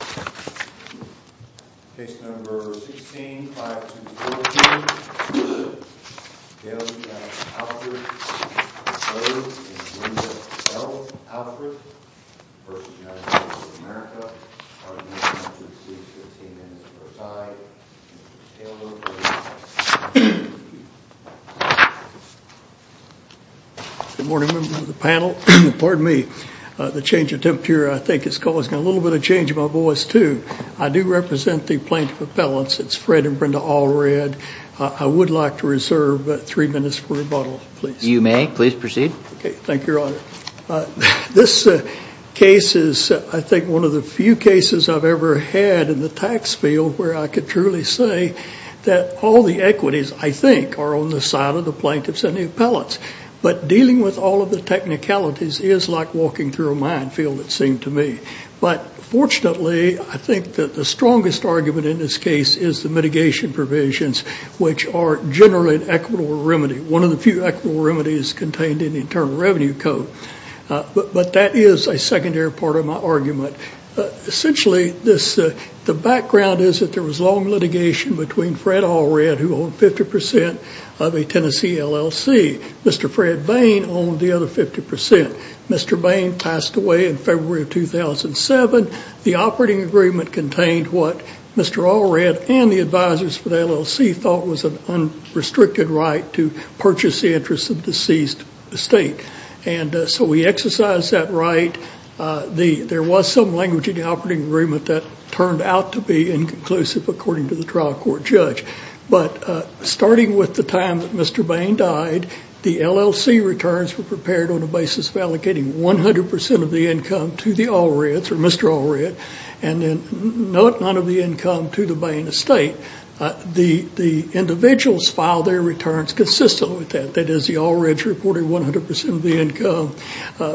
Case No. 16-5214, Gail Jackson Allred III v. Linda L. Allred III v. United States of America, pardon me, I'm not sure if she was here or if she came in at the first time, Taylor. Good morning, members of the panel. Pardon me. The change of temperature I think is causing a little bit of change in my voice too. I do represent the plaintiff appellants. It's Fred and Brenda Allred. I would like to reserve three minutes for rebuttal, please. You may. Please proceed. Okay. Thank you, Your Honor. This case is I think one of the few cases I've ever had in the tax field where I could truly say that all the equities, I think, are on the side of the plaintiffs and the appellants. But dealing with all of the technicalities is like walking through a minefield, it seemed to me. But fortunately, I think that the strongest argument in this case is the mitigation provisions, which are generally an equitable remedy, one of the few equitable remedies contained in the Internal Revenue Code. But that is a secondary part of my argument. Essentially, the background is that there was long litigation between Fred Allred, who owned 50% of a Tennessee LLC, Mr. Fred Bain owned the other 50%. Mr. Bain passed away in February of 2007. The operating agreement contained what Mr. Allred and the advisors for the LLC thought was an unrestricted right to purchase the interests of the seized estate. And so we exercised that right. There was some language in the operating agreement that turned out to be inconclusive, according to the trial court judge. But starting with the time that Mr. Bain died, the LLC returns were prepared on the basis of allocating 100% of the income to the Allreds, or Mr. Allred, and then none of the income to the Bain estate. The individuals filed their returns consistently with that. That is, the Allreds reported 100% of the income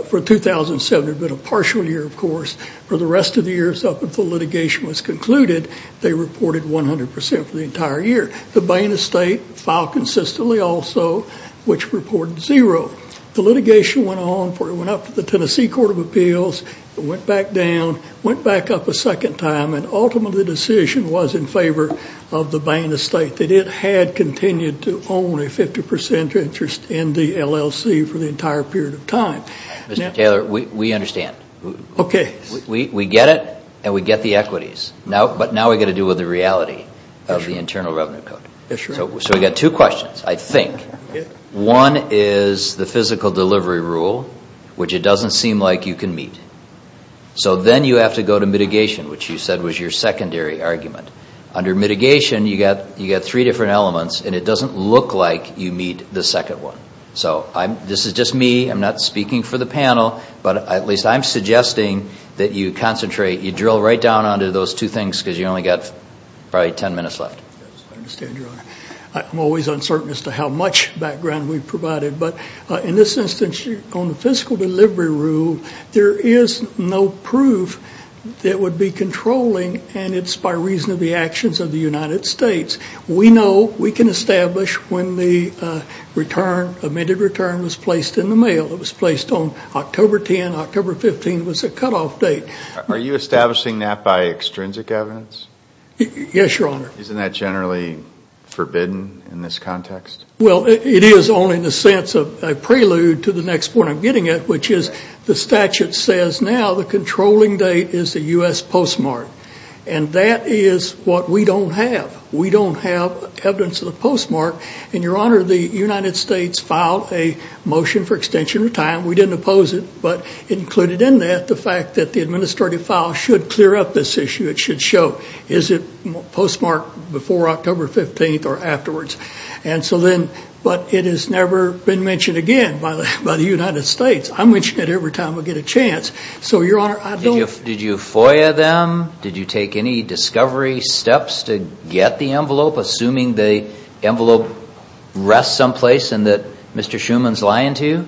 for 2007, but a partial year, of course. For the rest of the years up until litigation was concluded, they reported 100% for the entire year. The Bain estate filed consistently also, which reported zero. The litigation went on, it went up to the Tennessee Court of Appeals, it went back down, went back up a second time, and ultimately the decision was in favor of the Bain estate, that it had continued to own a 50% interest in the LLC for the entire period of time. Mr. Taylor, we understand. We get it, and we get the equities. But now we've got to deal with the reality of the Internal Revenue Code. So we've got two questions, I think. One is the physical delivery rule, which it doesn't seem like you can meet. So then you have to go to mitigation, which you said was your secondary argument. Under mitigation, you've got three different elements, and it doesn't look like you meet the second one. So this is just me, I'm not speaking for the panel, but at least I'm suggesting that you concentrate, you drill right down onto those two things because you've only got probably ten minutes left. Yes, I understand, Your Honor. I'm always uncertain as to how much background we've provided. But in this instance, on the fiscal delivery rule, there is no proof that it would be controlling, and it's by reason of the actions of the United States. We know we can establish when the return, the amended return, was placed in the mail. It was placed on October 10. October 15 was a cutoff date. Are you establishing that by extrinsic evidence? Yes, Your Honor. Isn't that generally forbidden in this context? Well, it is only in the sense of a prelude to the next point I'm getting at, which is the statute says now the controlling date is the U.S. postmark, and that is what we don't have. We don't have evidence of the postmark. And, Your Honor, the United States filed a motion for extension of time. We didn't oppose it, but included in that the fact that the administrative file should clear up this issue. It should show, is it postmarked before October 15 or afterwards? And so then, but it has never been mentioned again by the United States. I mention it every time I get a chance. So, Your Honor, I don't... Did you FOIA them? Did you take any discovery steps to get the envelope, assuming the envelope rests someplace and that Mr. Schuman's lying to you?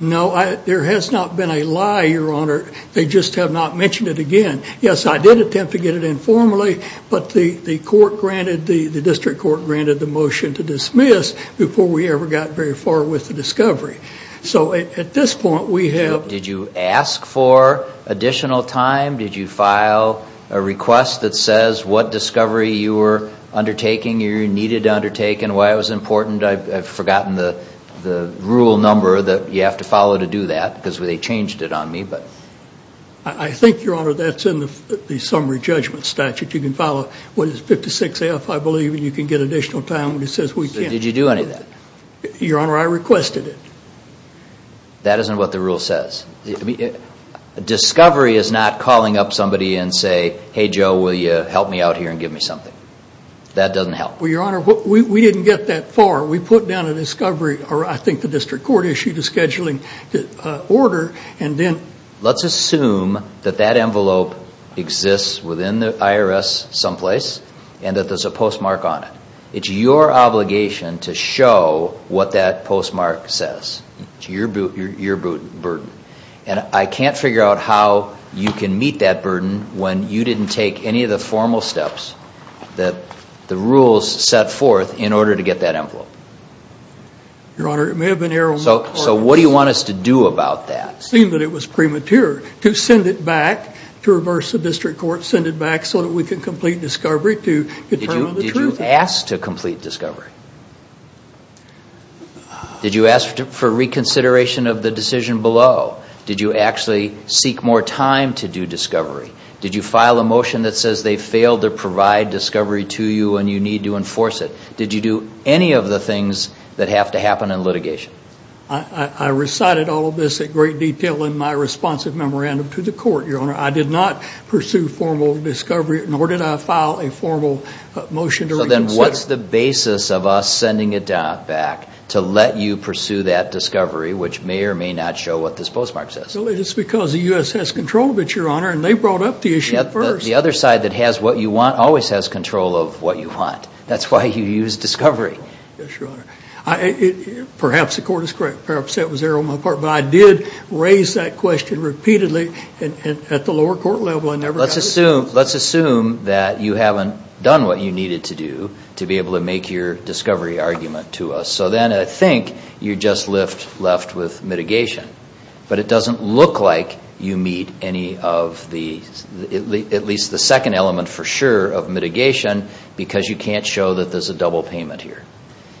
No, there has not been a lie, Your Honor. They just have not mentioned it again. Yes, I did attempt to get it informally, but the court granted, the district court granted the motion to dismiss before we ever got very far with the discovery. So, at this point, we have... Did you ask for additional time? Did you file a request that says what discovery you were undertaking, you needed to undertake, and why it was important? I've forgotten the rule number that you have to follow to do that, because they changed it on me, but... I think, Your Honor, that's in the summary judgment statute. You can follow what is 56F, I believe, and you can get additional time when it says we can't. Did you do any of that? Your Honor, I requested it. That isn't what the rule says. Discovery is not calling up somebody and say, hey, Joe, will you help me out here and give me something. That doesn't help. Well, Your Honor, we didn't get that far. We put down a discovery, or I think the district court issued a scheduling order, and then... Let's assume that that envelope exists within the IRS someplace, and that there's a postmark on it. It's your obligation to show what that postmark says. It's your burden. And I can't figure out how you can meet that burden when you didn't take any of the formal steps that the rules set forth in order to get that envelope. Your Honor, it may have been error on my part. So what do you want us to do about that? It seemed that it was premature to send it back, to reverse the district court, send it back so that we could complete discovery to determine the truth. Did you ask to complete discovery? Did you ask for reconsideration of the decision below? Did you actually seek more time to do discovery? Did you file a motion that says they failed to provide discovery to you and you need to enforce it? Did you do any of the things that have to happen in litigation? I recited all of this in great detail in my responsive memorandum to the court, Your Honor. I did not pursue formal discovery, nor did I file a formal motion to reconsider. So then what's the basis of us sending it back to let you pursue that discovery, which may or may not show what this postmark says? It's because the U.S. has control of it, Your Honor, and they brought up the issue first. The other side that has what you want always has control of what you want. That's why you used discovery. Yes, Your Honor. Perhaps the court is correct. Perhaps that was error on my part. But I did raise that question repeatedly at the lower court level. Let's assume that you haven't done what you needed to do to be able to make your discovery argument to us. So then I think you're just left with mitigation. But it doesn't look like you meet any of the, at least the second element for sure, of mitigation because you can't show that there's a double payment here.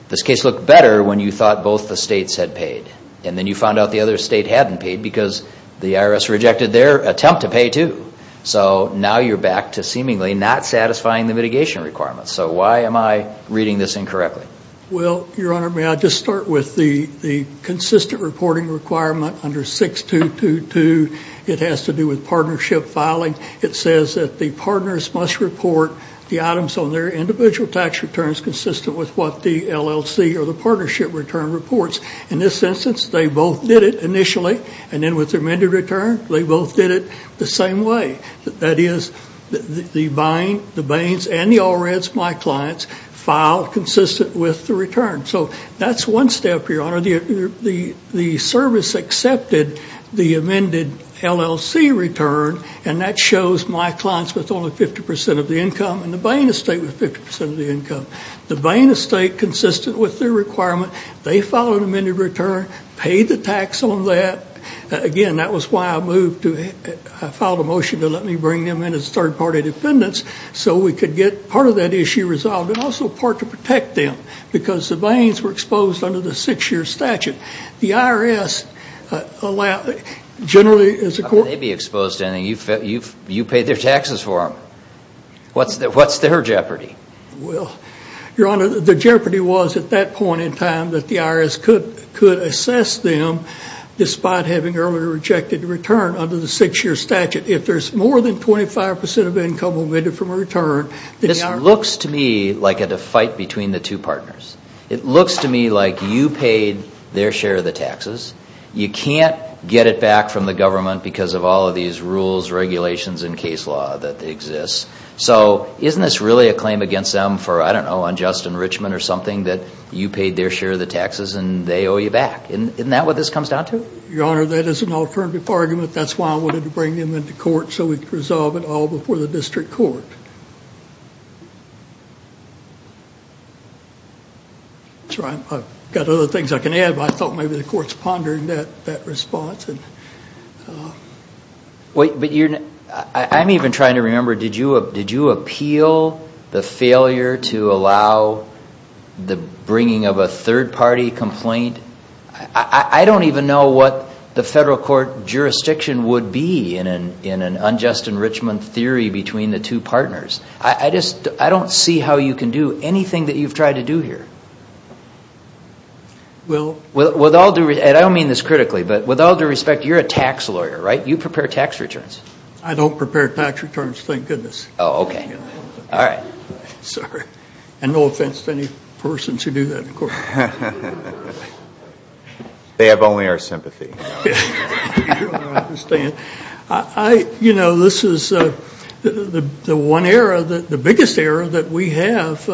This case looked better when you thought both the states had paid. And then you found out the other state hadn't paid because the IRS rejected their attempt to pay too. So now you're back to seemingly not satisfying the mitigation requirements. So why am I reading this incorrectly? Well, Your Honor, may I just start with the consistent reporting requirement under 6222. It has to do with partnership filing. It says that the partners must report the items on their individual tax returns consistent with what the LLC or the partnership return reports. In this instance, they both did it initially. And then with their amended return, they both did it the same way. That is, the Bains and the Allreds, my clients, filed consistent with the return. So that's one step, Your Honor. The service accepted the amended LLC return, and that shows my clients with only 50% of the income and the Bain estate with 50% of the income. The Bain estate, consistent with their requirement, they filed an amended return, paid the tax on that. Again, that was why I filed a motion to let me bring them in as third-party defendants so we could get part of that issue resolved and also part to protect them because the Bains were exposed under the six-year statute. The IRS generally is a court— How could they be exposed to anything? You paid their taxes for them. What's their jeopardy? Well, Your Honor, the jeopardy was at that point in time that the IRS could assess them despite having earlier rejected the return under the six-year statute. If there's more than 25% of income omitted from a return— This looks to me like a fight between the two partners. It looks to me like you paid their share of the taxes. You can't get it back from the government because of all of these rules, regulations, and case law that exist. So isn't this really a claim against them for, I don't know, unjust enrichment or something that you paid their share of the taxes and they owe you back? Isn't that what this comes down to? Your Honor, that is an alternative argument. That's why I wanted to bring them into court so we could resolve it all before the district court. I've got other things I can add, but I thought maybe the court's pondering that response. I'm even trying to remember, did you appeal the failure to allow the bringing of a third-party complaint? I don't even know what the federal court jurisdiction would be in an unjust enrichment theory between the two partners. I don't see how you can do anything that you've tried to do here. And I don't mean this critically, but with all due respect, you're a tax lawyer, right? You prepare tax returns. I don't prepare tax returns, thank goodness. Oh, okay. Sorry. And no offense to any persons who do that in court. They have only our sympathy. Your Honor, I understand. You know, this is the one era, the biggest era that we have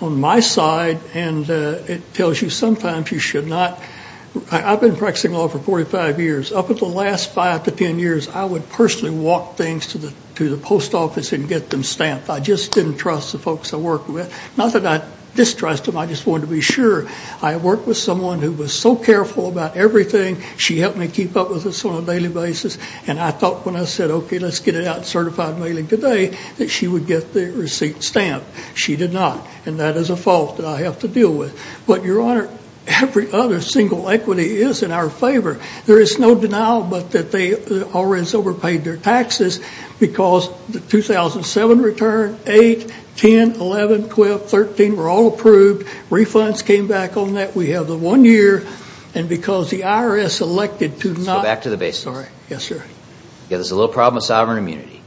on my side, and it tells you sometimes you should not. I've been practicing law for 45 years. Up until the last five to 10 years, I would personally walk things to the post office and get them stamped. I just didn't trust the folks I worked with. Not that I distrust them, I just wanted to be sure. I worked with someone who was so careful about everything. She helped me keep up with this on a daily basis. And I thought when I said, okay, let's get it out in certified mailing today, that she would get the receipt stamped. She did not. And that is a fault that I have to deal with. But, Your Honor, every other single equity is in our favor. There is no denial but that they already overpaid their taxes because the 2007 return, 8, 10, 11, 12, 13 were all approved. Refunds came back on that. We have the one year, and because the IRS elected to not Go back to the basics. Yes, sir. There's a little problem with sovereign immunity.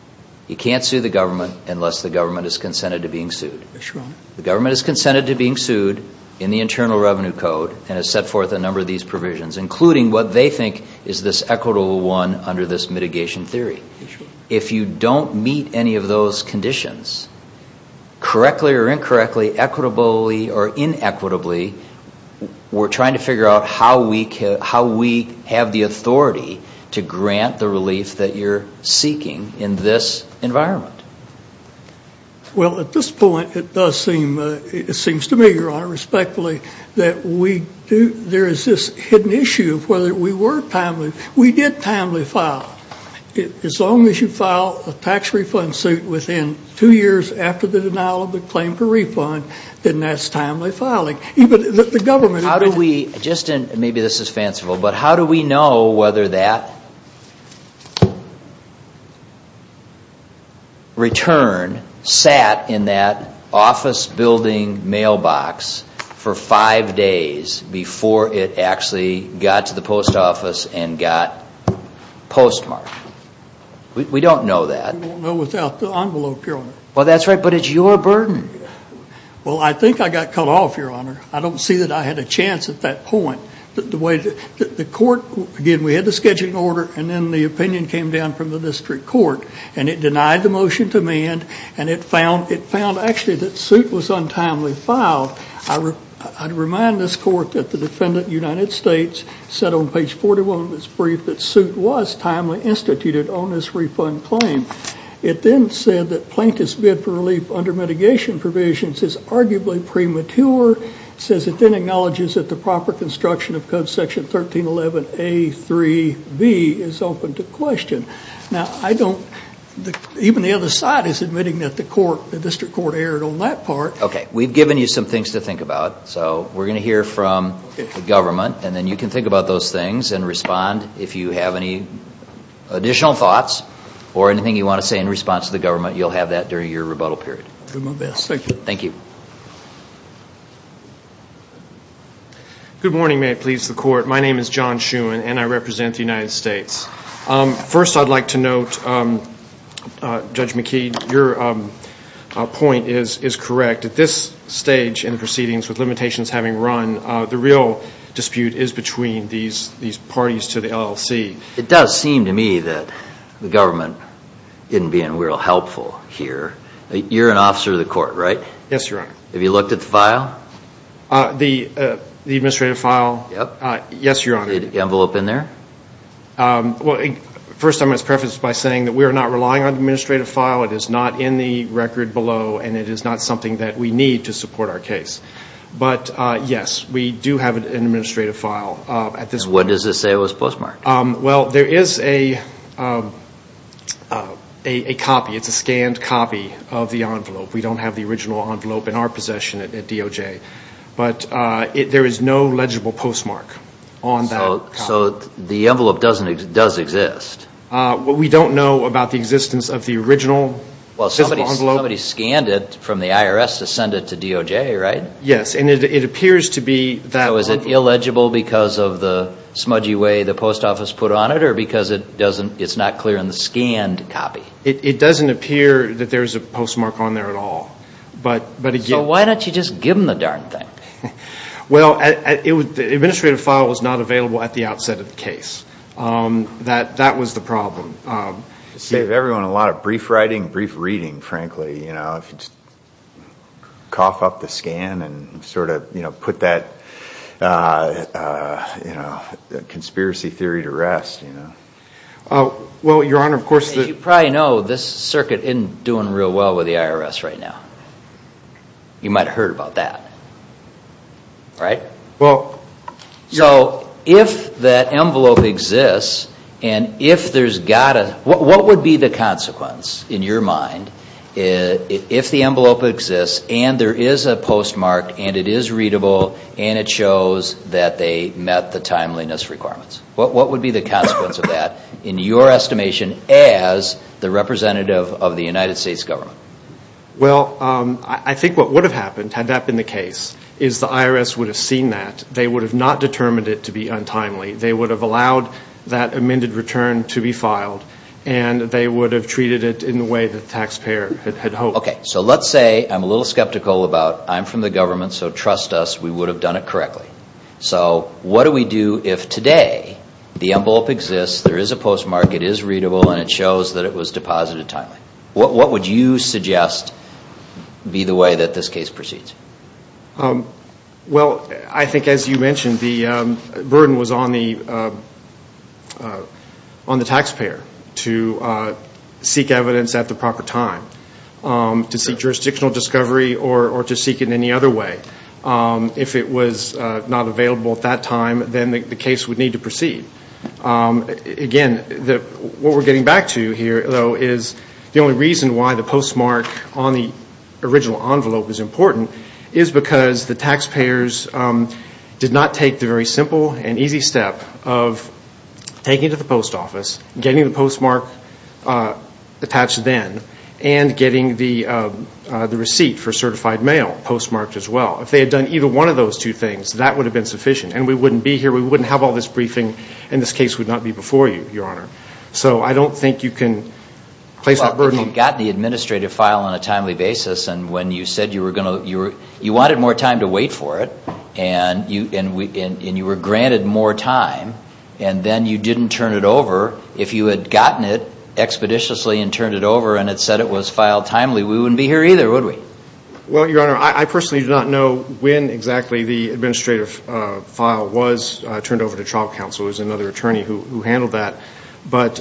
You can't sue the government unless the government is consented to being sued. Yes, Your Honor. The government is consented to being sued in the Internal Revenue Code and has set forth a number of these provisions, including what they think is this equitable one under this mitigation theory. Yes, Your Honor. If you don't meet any of those conditions, correctly or incorrectly, equitably or inequitably, we're trying to figure out how we have the authority to grant the relief that you're seeking in this environment. Well, at this point, it does seem, it seems to me, Your Honor, respectfully, that there is this hidden issue of whether we were timely. We did timely file. As long as you file a tax refund suit within two years after the denial of the claim for refund, then that's timely filing. Even the government. How do we, just in, maybe this is fanciful, but how do we know whether that return sat in that office building mailbox for five days before it actually got to the post office and got postmarked? We don't know that. We won't know without the envelope, Your Honor. Well, that's right, but it's your burden. Well, I think I got cut off, Your Honor. I don't see that I had a chance at that point. The way the court, again, we had the scheduling order and then the opinion came down from the district court and it denied the motion to me and it found actually that suit was untimely filed. I remind this court that the defendant, United States, said on page 41 of its brief that suit was timely instituted on this refund claim. It then said that plaintiff's bid for relief under mitigation provisions is arguably premature. It says it then acknowledges that the proper construction of code section 1311A3B is open to question. Now, even the other side is admitting that the district court erred on that part. Okay, we've given you some things to think about, so we're going to hear from the government and then you can think about those things and respond if you have any additional thoughts or anything you want to say in response to the government. You'll have that during your rebuttal period. I'll do my best. Thank you. Thank you. Good morning. May it please the court. My name is John Shewan and I represent the United States. First, I'd like to note, Judge McKee, your point is correct. At this stage in the proceedings with limitations having run, the real dispute is between these parties to the LLC. It does seem to me that the government isn't being real helpful here. You're an officer of the court, right? Yes, Your Honor. Have you looked at the file? The administrative file? Yes, Your Honor. Is the envelope in there? First, I must preface by saying that we are not relying on the administrative file. It is not in the record below and it is not something that we need to support our case. But, yes, we do have an administrative file. What does it say was postmarked? Well, there is a copy. It's a scanned copy of the envelope. We don't have the original envelope in our possession at DOJ. But there is no legible postmark on that copy. So the envelope does exist? We don't know about the existence of the original physical envelope. Well, somebody scanned it from the IRS to send it to DOJ, right? Yes, and it appears to be that envelope. So is it illegible because of the smudgy way the post office put on it or because it's not clear in the scanned copy? It doesn't appear that there's a postmark on there at all. So why don't you just give them the darn thing? Well, the administrative file was not available at the outset of the case. That was the problem. Save everyone a lot of brief writing, brief reading, frankly. Cough up the scan and sort of put that conspiracy theory to rest. As you probably know, this circuit isn't doing real well with the IRS right now. You might have heard about that. Right? So if that envelope exists and if there's got to, what would be the consequence in your mind if the envelope exists and there is a postmark and it is readable and it shows that they met the timeliness requirements? What would be the consequence of that in your estimation as the representative of the United States government? Well, I think what would have happened had that been the case is the IRS would have seen that. They would have not determined it to be untimely. They would have allowed that amended return to be filed and they would have treated it in the way the taxpayer had hoped. Okay, so let's say I'm a little skeptical about I'm from the government, so trust us, we would have done it correctly. So what do we do if today the envelope exists, there is a postmark, it is readable, and it shows that it was deposited timely? What would you suggest be the way that this case proceeds? Well, I think as you mentioned, the burden was on the taxpayer to seek evidence at the proper time, to seek jurisdictional discovery or to seek it any other way. If it was not available at that time, then the case would need to proceed. Again, what we're getting back to here, though, is the only reason why the postmark on the original envelope is important is because the taxpayers did not take the very simple and easy step of taking it to the post office, getting the postmark attached then, and getting the receipt for certified mail postmarked as well. If they had done either one of those two things, that would have been sufficient, and we wouldn't be here, we wouldn't have all this briefing, and this case would not be before you, Your Honor. So I don't think you can place that burden on... Well, if you had gotten the administrative file on a timely basis and when you said you were going to, you wanted more time to wait for it, and you were granted more time, and then you didn't turn it over, if you had gotten it expeditiously and turned it over and had said it was filed timely, we wouldn't be here either, would we? Well, Your Honor, I personally do not know when exactly the administrative file was turned over to trial counsel. It was another attorney who handled that. But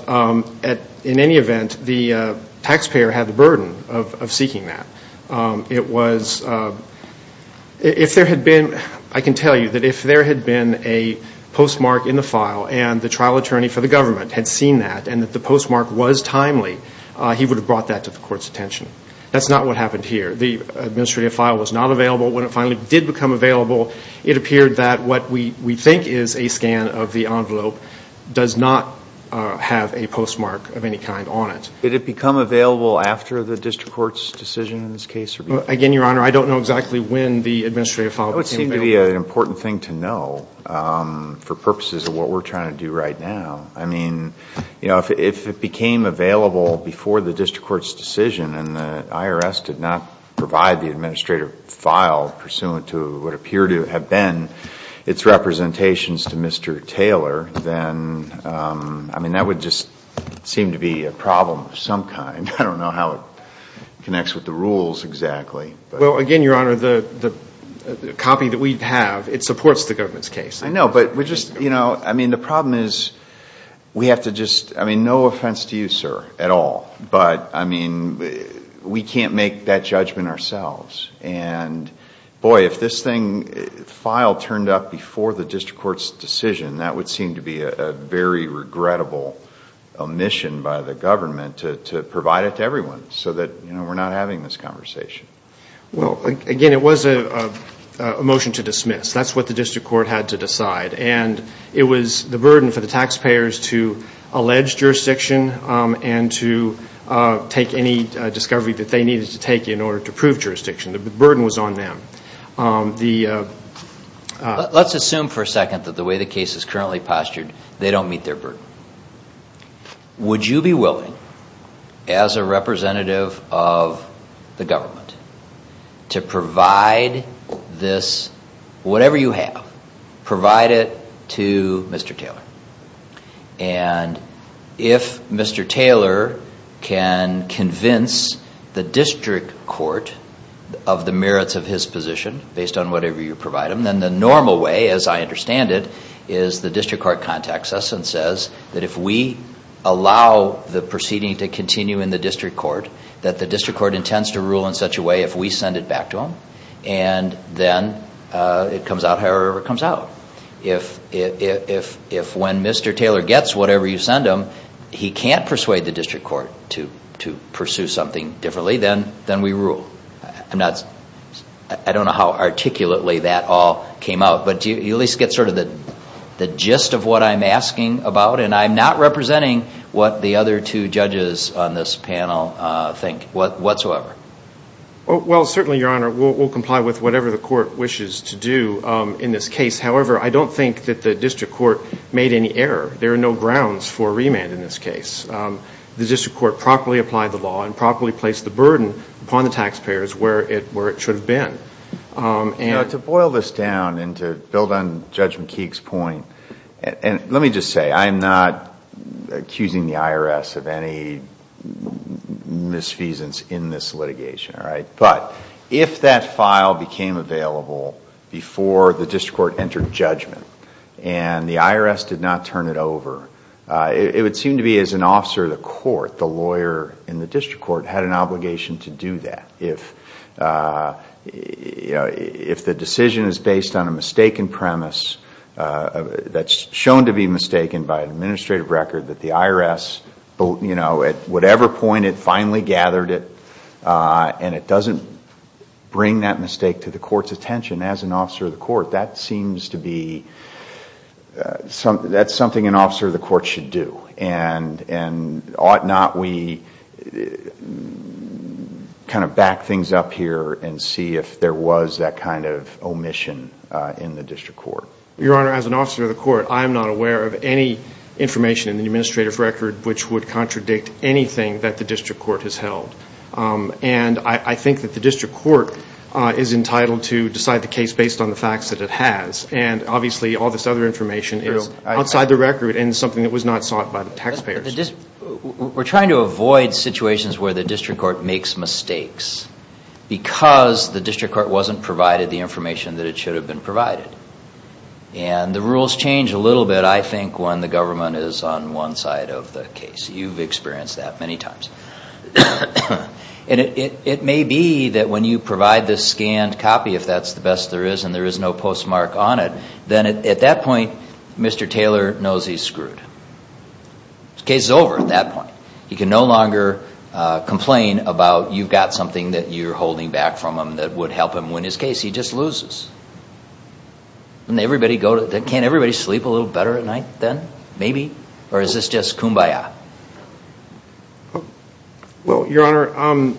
in any event, the taxpayer had the burden of seeking that. It was... If there had been... I can tell you that if there had been a postmark in the file and the trial attorney for the government had seen that and that the postmark was timely, he would have brought that to the court's attention. That's not what happened here. The administrative file was not available. When it finally did become available, it appeared that what we think is a scan of the envelope does not have a postmark of any kind on it. Did it become available after the district court's decision in this case? Again, Your Honor, I don't know exactly when the administrative file became available. That would seem to be an important thing to know for purposes of what we're trying to do right now. I mean, if it became available before the district court's decision and the IRS did not provide the administrative file pursuant to what appeared to have been its representations to Mr. Taylor, then that would just seem to be a problem of some kind. I don't know how it connects with the rules exactly. Well, again, Your Honor, the copy that we have, it supports the government's case. I know, but we're just, you know, I mean, the problem is we have to just, I mean, no offense to you, sir, at all, but, I mean, we can't make that judgment ourselves. And, boy, if this file turned up before the district court's decision, that would seem to be a very regrettable omission by the government to provide it to everyone so that, you know, we're not having this conversation. Well, again, it was a motion to dismiss. That's what the district court had to decide. And it was the burden for the taxpayers to allege jurisdiction and to take any discovery that they needed to take in order to prove jurisdiction. The burden was on them. Let's assume for a second that the way the case is currently postured, they don't meet their burden. Would you be willing, as a representative of the government, to provide this, whatever you have, provide it to Mr. Taylor? And if Mr. Taylor can convince the district court of the merits of his position, based on whatever you provide him, then the normal way, as I understand it, is the district court contacts us and says that if we allow the proceeding to continue in the district court, that the district court intends to rule in such a way if we send it back to him, and then it comes out however it comes out. If when Mr. Taylor gets whatever you send him, he can't persuade the district court to pursue something differently, then we rule. I don't know how articulately that all came out, but do you at least get sort of the gist of what I'm asking about? And I'm not representing what the other two judges on this panel think whatsoever. Well, certainly, Your Honor, we'll comply with whatever the court wishes to do in this case. However, I don't think that the district court made any error. There are no grounds for remand in this case. The district court properly applied the law and properly placed the burden upon the taxpayers where it should have been. To boil this down and to build on Judge McKeague's point, let me just say I'm not accusing the IRS of any misfeasance in this litigation. But if that file became available before the district court entered judgment and the IRS did not turn it over, it would seem to be as an officer of the court, the lawyer in the district court had an obligation to do that. If the decision is based on a mistaken premise that's shown to be mistaken by an administrative record that the IRS at whatever point had finally gathered it and it doesn't bring that mistake to the court's attention as an officer of the court, that seems to be something an officer of the court should do. And ought not we kind of back things up here and see if there was that kind of omission in the district court? Your Honor, as an officer of the court, I am not aware of any information in the administrative record which would contradict anything that the district court has held. And I think that the district court is entitled to decide the case based on the facts that it has. And obviously all this other information is outside the record and something that was not sought by the taxpayers. We're trying to avoid situations where the district court makes mistakes because the district court wasn't provided the information that it should have been provided. And the rules change a little bit, I think, when the government is on one side of the case. You've experienced that many times. And it may be that when you provide this scanned copy, if that's the best there is and there is no postmark on it, then at that point Mr. Taylor knows he's screwed. The case is over at that point. He can no longer complain about you've got something that you're holding back from him that would help him win his case. He just loses. Can't everybody sleep a little better at night then? Maybe? Or is this just kumbaya? Well, Your Honor,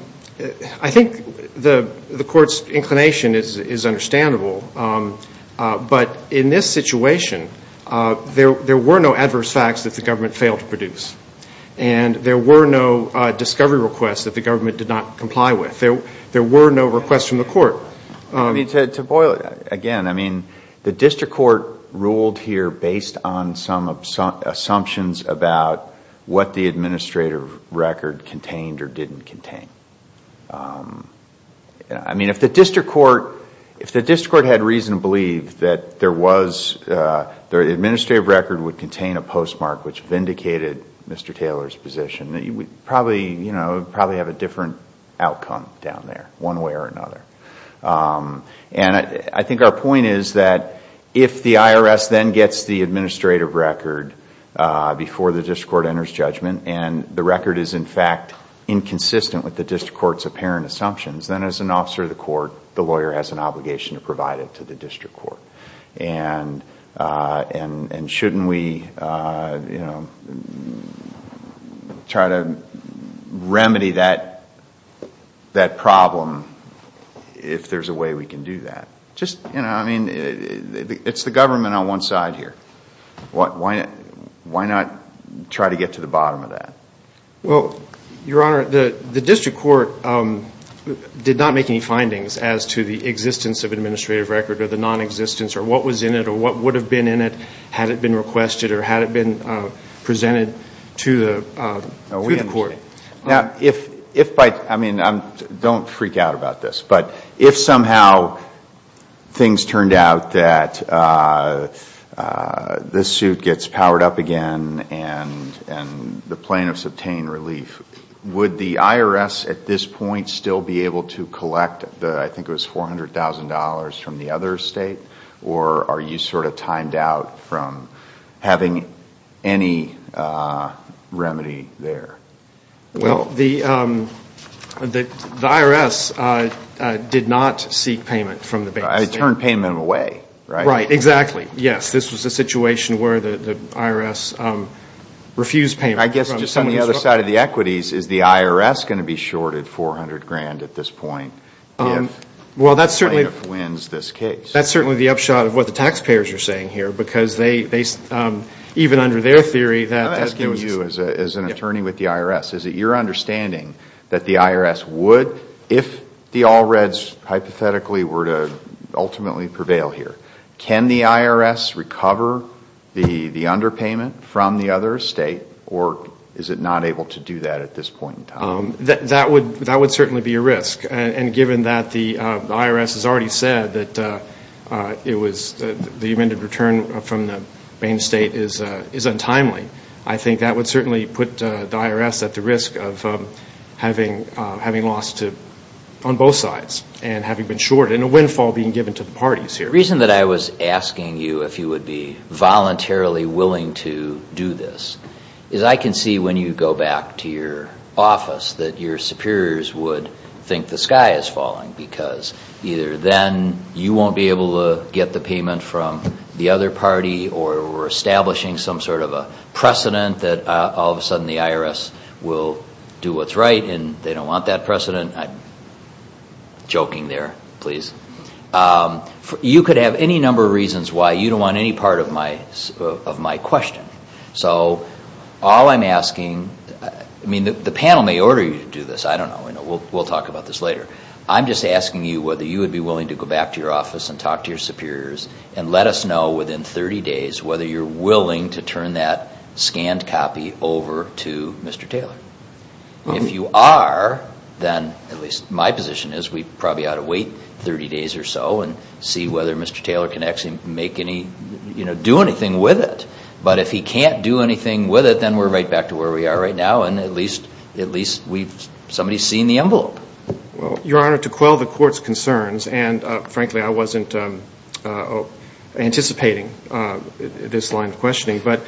I think the court's inclination is understandable. But in this situation, there were no adverse facts that the government failed to produce. And there were no discovery requests that the government did not comply with. There were no requests from the court. To boil it again, I mean, the district court ruled here based on some assumptions about what the administrative record contained or didn't contain. I mean, if the district court had reason to believe that the administrative record would contain a postmark which vindicated Mr. Taylor's position, we'd probably have a different outcome down there, one way or another. And I think our point is that if the IRS then gets the administrative record before the district court enters judgment, and the record is in fact inconsistent with the district court's apparent assumptions, then as an officer of the court, the lawyer has an obligation to provide it to the district court. And shouldn't we try to remedy that problem if there's a way we can do that? I mean, it's the government on one side here. Why not try to get to the bottom of that? Well, Your Honor, the district court did not make any findings as to the existence of administrative record or the nonexistence or what was in it or what would have been in it had it been requested or had it been presented to the court. Now, if by – I mean, don't freak out about this, but if somehow things turned out that this suit gets powered up again and the plaintiffs obtain relief, would the IRS at this point still be able to collect the – I think it was $400,000 from the other state? Or are you sort of timed out from having any remedy there? Well, the IRS did not seek payment from the base state. It turned payment away, right? Right, exactly. Yes, this was a situation where the IRS refused payment. I guess just on the other side of the equities, is the IRS going to be shorted $400,000 at this point if the plaintiff wins this case? Well, that's certainly the upshot of what the taxpayers are saying here because they – even under their theory that – I'm asking you as an attorney with the IRS. Is it your understanding that the IRS would, if the All Reds hypothetically were to ultimately prevail here, can the IRS recover the underpayment from the other state or is it not able to do that at this point in time? That would certainly be a risk. And given that the IRS has already said that it was – the amended return from the main state is untimely, I think that would certainly put the IRS at the risk of having lost on both sides and having been shorted and a windfall being given to the parties here. The reason that I was asking you if you would be voluntarily willing to do this is I can see when you go back to your office that your superiors would think the sky is falling because either then you won't be able to get the payment from the other party or we're establishing some sort of a precedent that all of a sudden the IRS will do what's right and they don't want that precedent. I'm joking there, please. You could have any number of reasons why you don't want any part of my question. So all I'm asking – I mean, the panel may order you to do this. I don't know. We'll talk about this later. I'm just asking you whether you would be willing to go back to your office and talk to your superiors and let us know within 30 days whether you're willing to turn that scanned copy over to Mr. Taylor. If you are, then at least my position is we probably ought to wait 30 days or so and see whether Mr. Taylor can actually do anything with it. But if he can't do anything with it, then we're right back to where we are right now and at least somebody's seen the envelope. Well, Your Honor, to quell the Court's concerns, and frankly I wasn't anticipating this line of questioning, but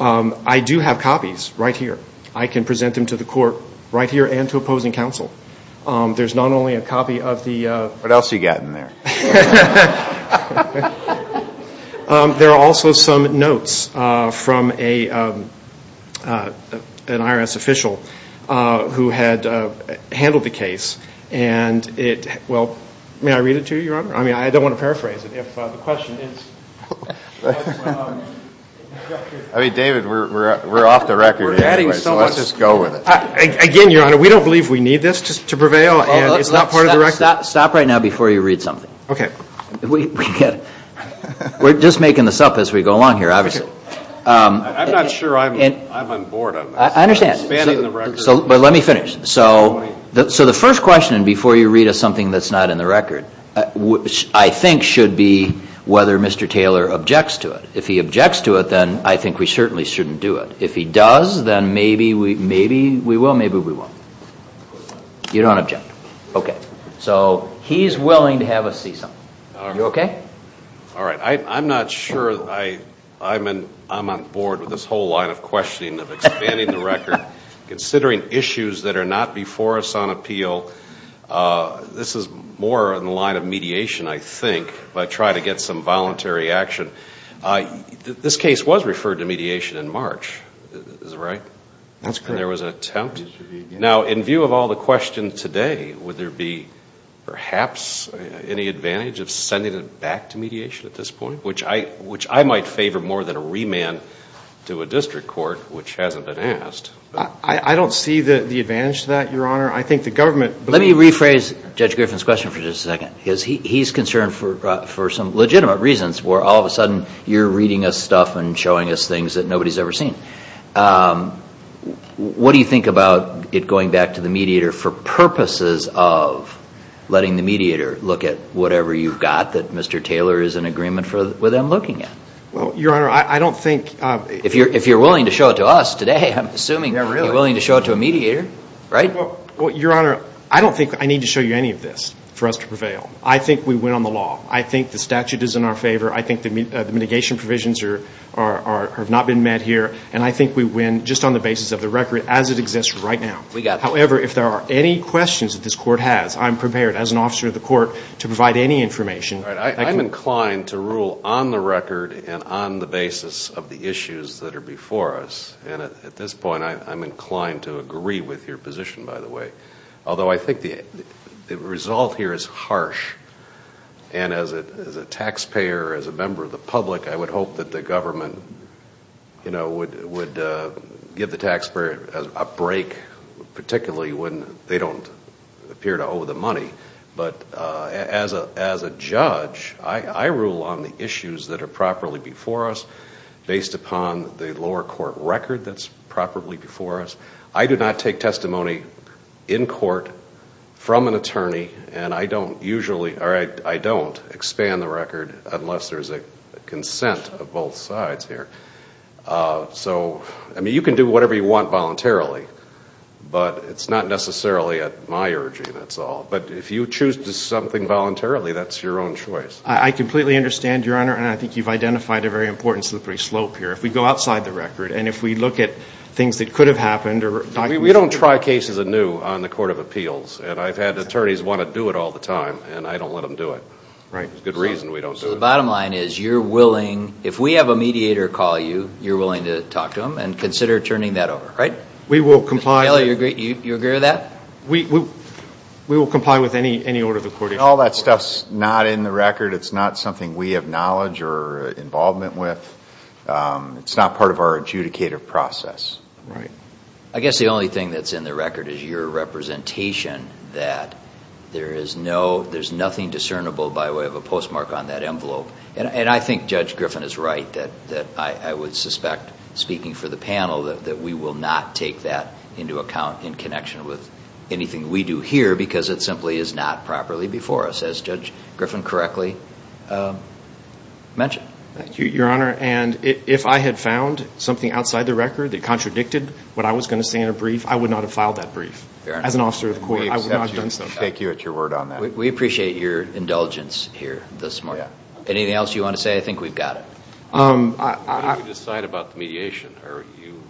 I do have copies right here. I can present them to the Court right here and to opposing counsel. There's not only a copy of the – What else you got in there? There are also some notes from an IRS official who had handled the case, and it – well, may I read it to you, Your Honor? I mean, I don't want to paraphrase it. If the question is – I mean, David, we're off the record here. So let's just go with it. Again, Your Honor, we don't believe we need this to prevail, and it's not part of the record. Stop right now before you read something. Okay. We're just making this up as we go along here, obviously. I'm not sure I'm on board on this. I understand. But let me finish. So the first question before you read is something that's not in the record, which I think should be whether Mr. Taylor objects to it. If he objects to it, then I think we certainly shouldn't do it. If he does, then maybe we will, maybe we won't. You don't object. Okay. So he's willing to have us see something. You okay? All right. I'm not sure I'm on board with this whole line of questioning, of expanding the record, considering issues that are not before us on appeal. This is more in the line of mediation, I think, by trying to get some voluntary action. This case was referred to mediation in March. Is that right? That's correct. And there was an attempt. Now, in view of all the questions today, would there be perhaps any advantage of sending it back to mediation at this point, which I might favor more than a remand to a district court, which hasn't been asked? I don't see the advantage to that, Your Honor. I think the government — Let me rephrase Judge Griffin's question for just a second. He's concerned for some legitimate reasons where all of a sudden you're reading us stuff and showing us things that nobody's ever seen. What do you think about it going back to the mediator for purposes of letting the mediator look at whatever you've got that Mr. Taylor is in agreement with him looking at? Well, Your Honor, I don't think — If you're willing to show it to us today, I'm assuming you're willing to show it to a mediator, right? Well, Your Honor, I don't think I need to show you any of this for us to prevail. I think we win on the law. I think the statute is in our favor. I think the mitigation provisions have not been met here. And I think we win just on the basis of the record as it exists right now. We got it. However, if there are any questions that this court has, I'm prepared, as an officer of the court, to provide any information. All right. I'm inclined to rule on the record and on the basis of the issues that are before us. And at this point, I'm inclined to agree with your position, by the way. Although I think the result here is harsh. And as a taxpayer, as a member of the public, I would hope that the government, you know, would give the taxpayer a break, particularly when they don't appear to owe the money. But as a judge, I rule on the issues that are properly before us, based upon the lower court record that's properly before us. I do not take testimony in court from an attorney. And I don't usually, or I don't expand the record unless there's a consent of both sides here. So, I mean, you can do whatever you want voluntarily. But it's not necessarily at my urging, that's all. But if you choose to do something voluntarily, that's your own choice. I completely understand, Your Honor. And I think you've identified a very important slippery slope here. If we go outside the record and if we look at things that could have happened or documents that could have happened. We don't try cases anew on the Court of Appeals. And I've had attorneys want to do it all the time. And I don't let them do it. Right. There's good reason we don't do it. So the bottom line is you're willing, if we have a mediator call you, you're willing to talk to them and consider turning that over, right? We will comply. Mr. Taylor, you agree with that? We will comply with any order of the Court of Appeals. All that stuff's not in the record. It's not something we have knowledge or involvement with. It's not part of our adjudicative process. Right. I guess the only thing that's in the record is your representation that there is no, there's nothing discernible by way of a postmark on that envelope. And I think Judge Griffin is right that I would suspect, speaking for the panel, that we will not take that into account in connection with anything we do here because it simply is not properly before us, as Judge Griffin correctly mentioned. Thank you, Your Honor. And if I had found something outside the record that contradicted what I was going to say in a brief, I would not have filed that brief. Fair enough. As an officer of the court, I would not have done so. We accept you. We take you at your word on that. We appreciate your indulgence here this morning. Yeah. Anything else you want to say? I think we've got it. What do you decide about the mediation? Are you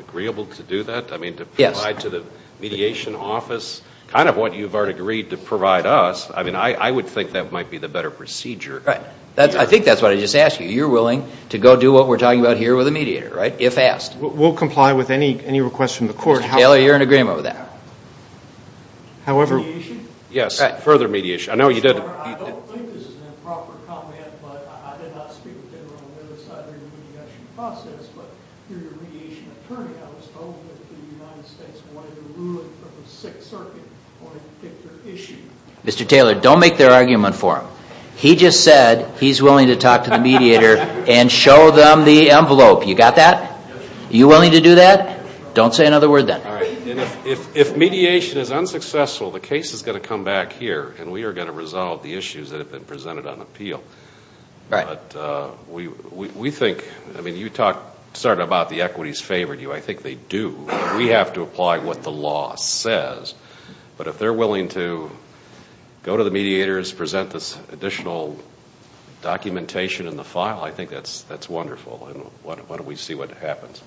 agreeable to do that? I mean, to provide to the mediation office kind of what you've already agreed to provide us, I mean, I would think that might be the better procedure. Right. I think that's what I just asked you. You're willing to go do what we're talking about here with a mediator, right, if asked? We'll comply with any request from the court. Mr. Taylor, you're in agreement with that. However... Mediation? Yes, further mediation. I know you did... process, but you're the mediation attorney. I was told that the United States wanted a ruling from the Sixth Circuit. They wanted to pick your issue. Mr. Taylor, don't make their argument for them. He just said he's willing to talk to the mediator and show them the envelope. You got that? Yes, sir. Are you willing to do that? Don't say another word then. All right. If mediation is unsuccessful, the case is going to come back here, and we are going to resolve the issues that have been presented on appeal. Right. But we think, I mean, you talked sort of about the equities favored you. I think they do. We have to apply what the law says. But if they're willing to go to the mediators, present this additional documentation in the file, I think that's wonderful, and why don't we see what happens.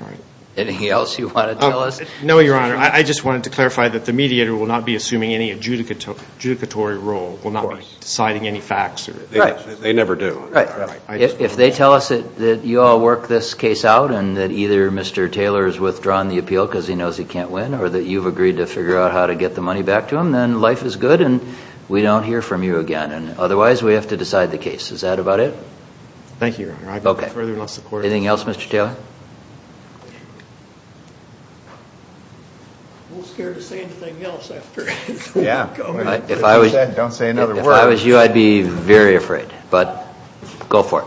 All right. Anything else you want to tell us? No, Your Honor. I just wanted to clarify that the mediator will not be assuming any adjudicatory role, will not be deciding any facts. Right. They never do. Right. If they tell us that you all work this case out and that either Mr. Taylor has withdrawn the appeal because he knows he can't win or that you've agreed to figure out how to get the money back to him, then life is good and we don't hear from you again. Otherwise, we have to decide the case. Is that about it? Thank you, Your Honor. Okay. Anything else, Mr. Taylor? I'm a little scared to say anything else after he's gone. Yeah. Don't say another word. If I was you, I'd be very afraid. But go for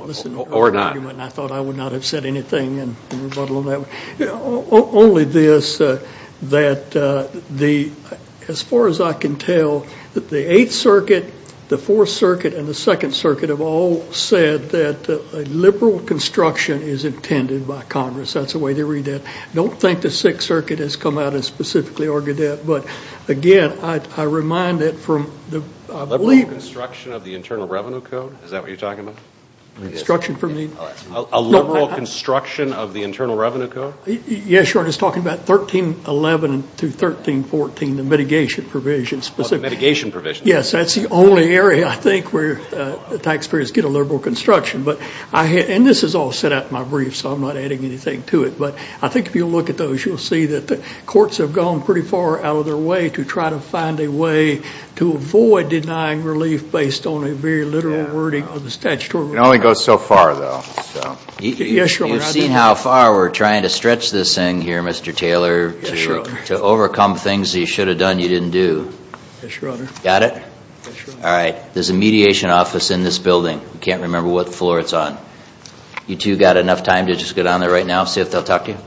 it. Or not. I thought I would not have said anything in rebuttal on that one. Only this, that as far as I can tell, the Eighth Circuit, the Fourth Circuit, and the Second Circuit have all said that a liberal construction is intended by Congress. That's the way they read that. I don't think the Sixth Circuit has come out and specifically argued that. But, again, I remind it from the – Liberal construction of the Internal Revenue Code? Is that what you're talking about? Construction from the – A liberal construction of the Internal Revenue Code? Yes, Your Honor. He's talking about 1311 through 1314, the mitigation provisions. The mitigation provisions. Yes. That's the only area, I think, where taxpayers get a liberal construction. And this is all set out in my brief, so I'm not adding anything to it. But I think if you look at those, you'll see that the courts have gone pretty far out of their way to try to find a way to avoid denying relief based on a very literal wording of the statutory requirement. It only goes so far, though. Yes, Your Honor. You've seen how far we're trying to stretch this thing here, Mr. Taylor. Yes, Your Honor. To overcome things that you should have done you didn't do. Yes, Your Honor. Got it? Yes, Your Honor. All right. There's a mediation office in this building. I can't remember what floor it's on. You two got enough time to just get on there right now, see if they'll talk to you?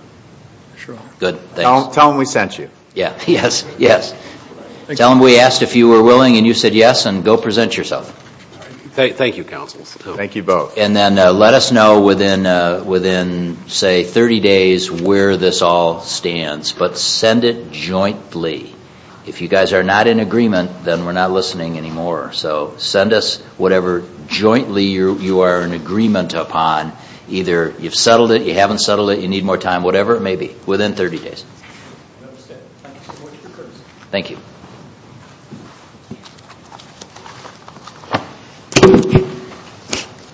Sure. Good. Tell them we sent you. Yeah. Yes. Yes. Tell them we asked if you were willing, and you said yes, and go present yourself. Thank you, counsel. Thank you both. And then let us know within, say, 30 days where this all stands. But send it jointly. If you guys are not in agreement, then we're not listening anymore. So send us whatever jointly you are in agreement upon. Either you've settled it, you haven't settled it, you need more time, whatever it may be, within 30 days. I understand. Thank you so much for your courtesy. Thank you.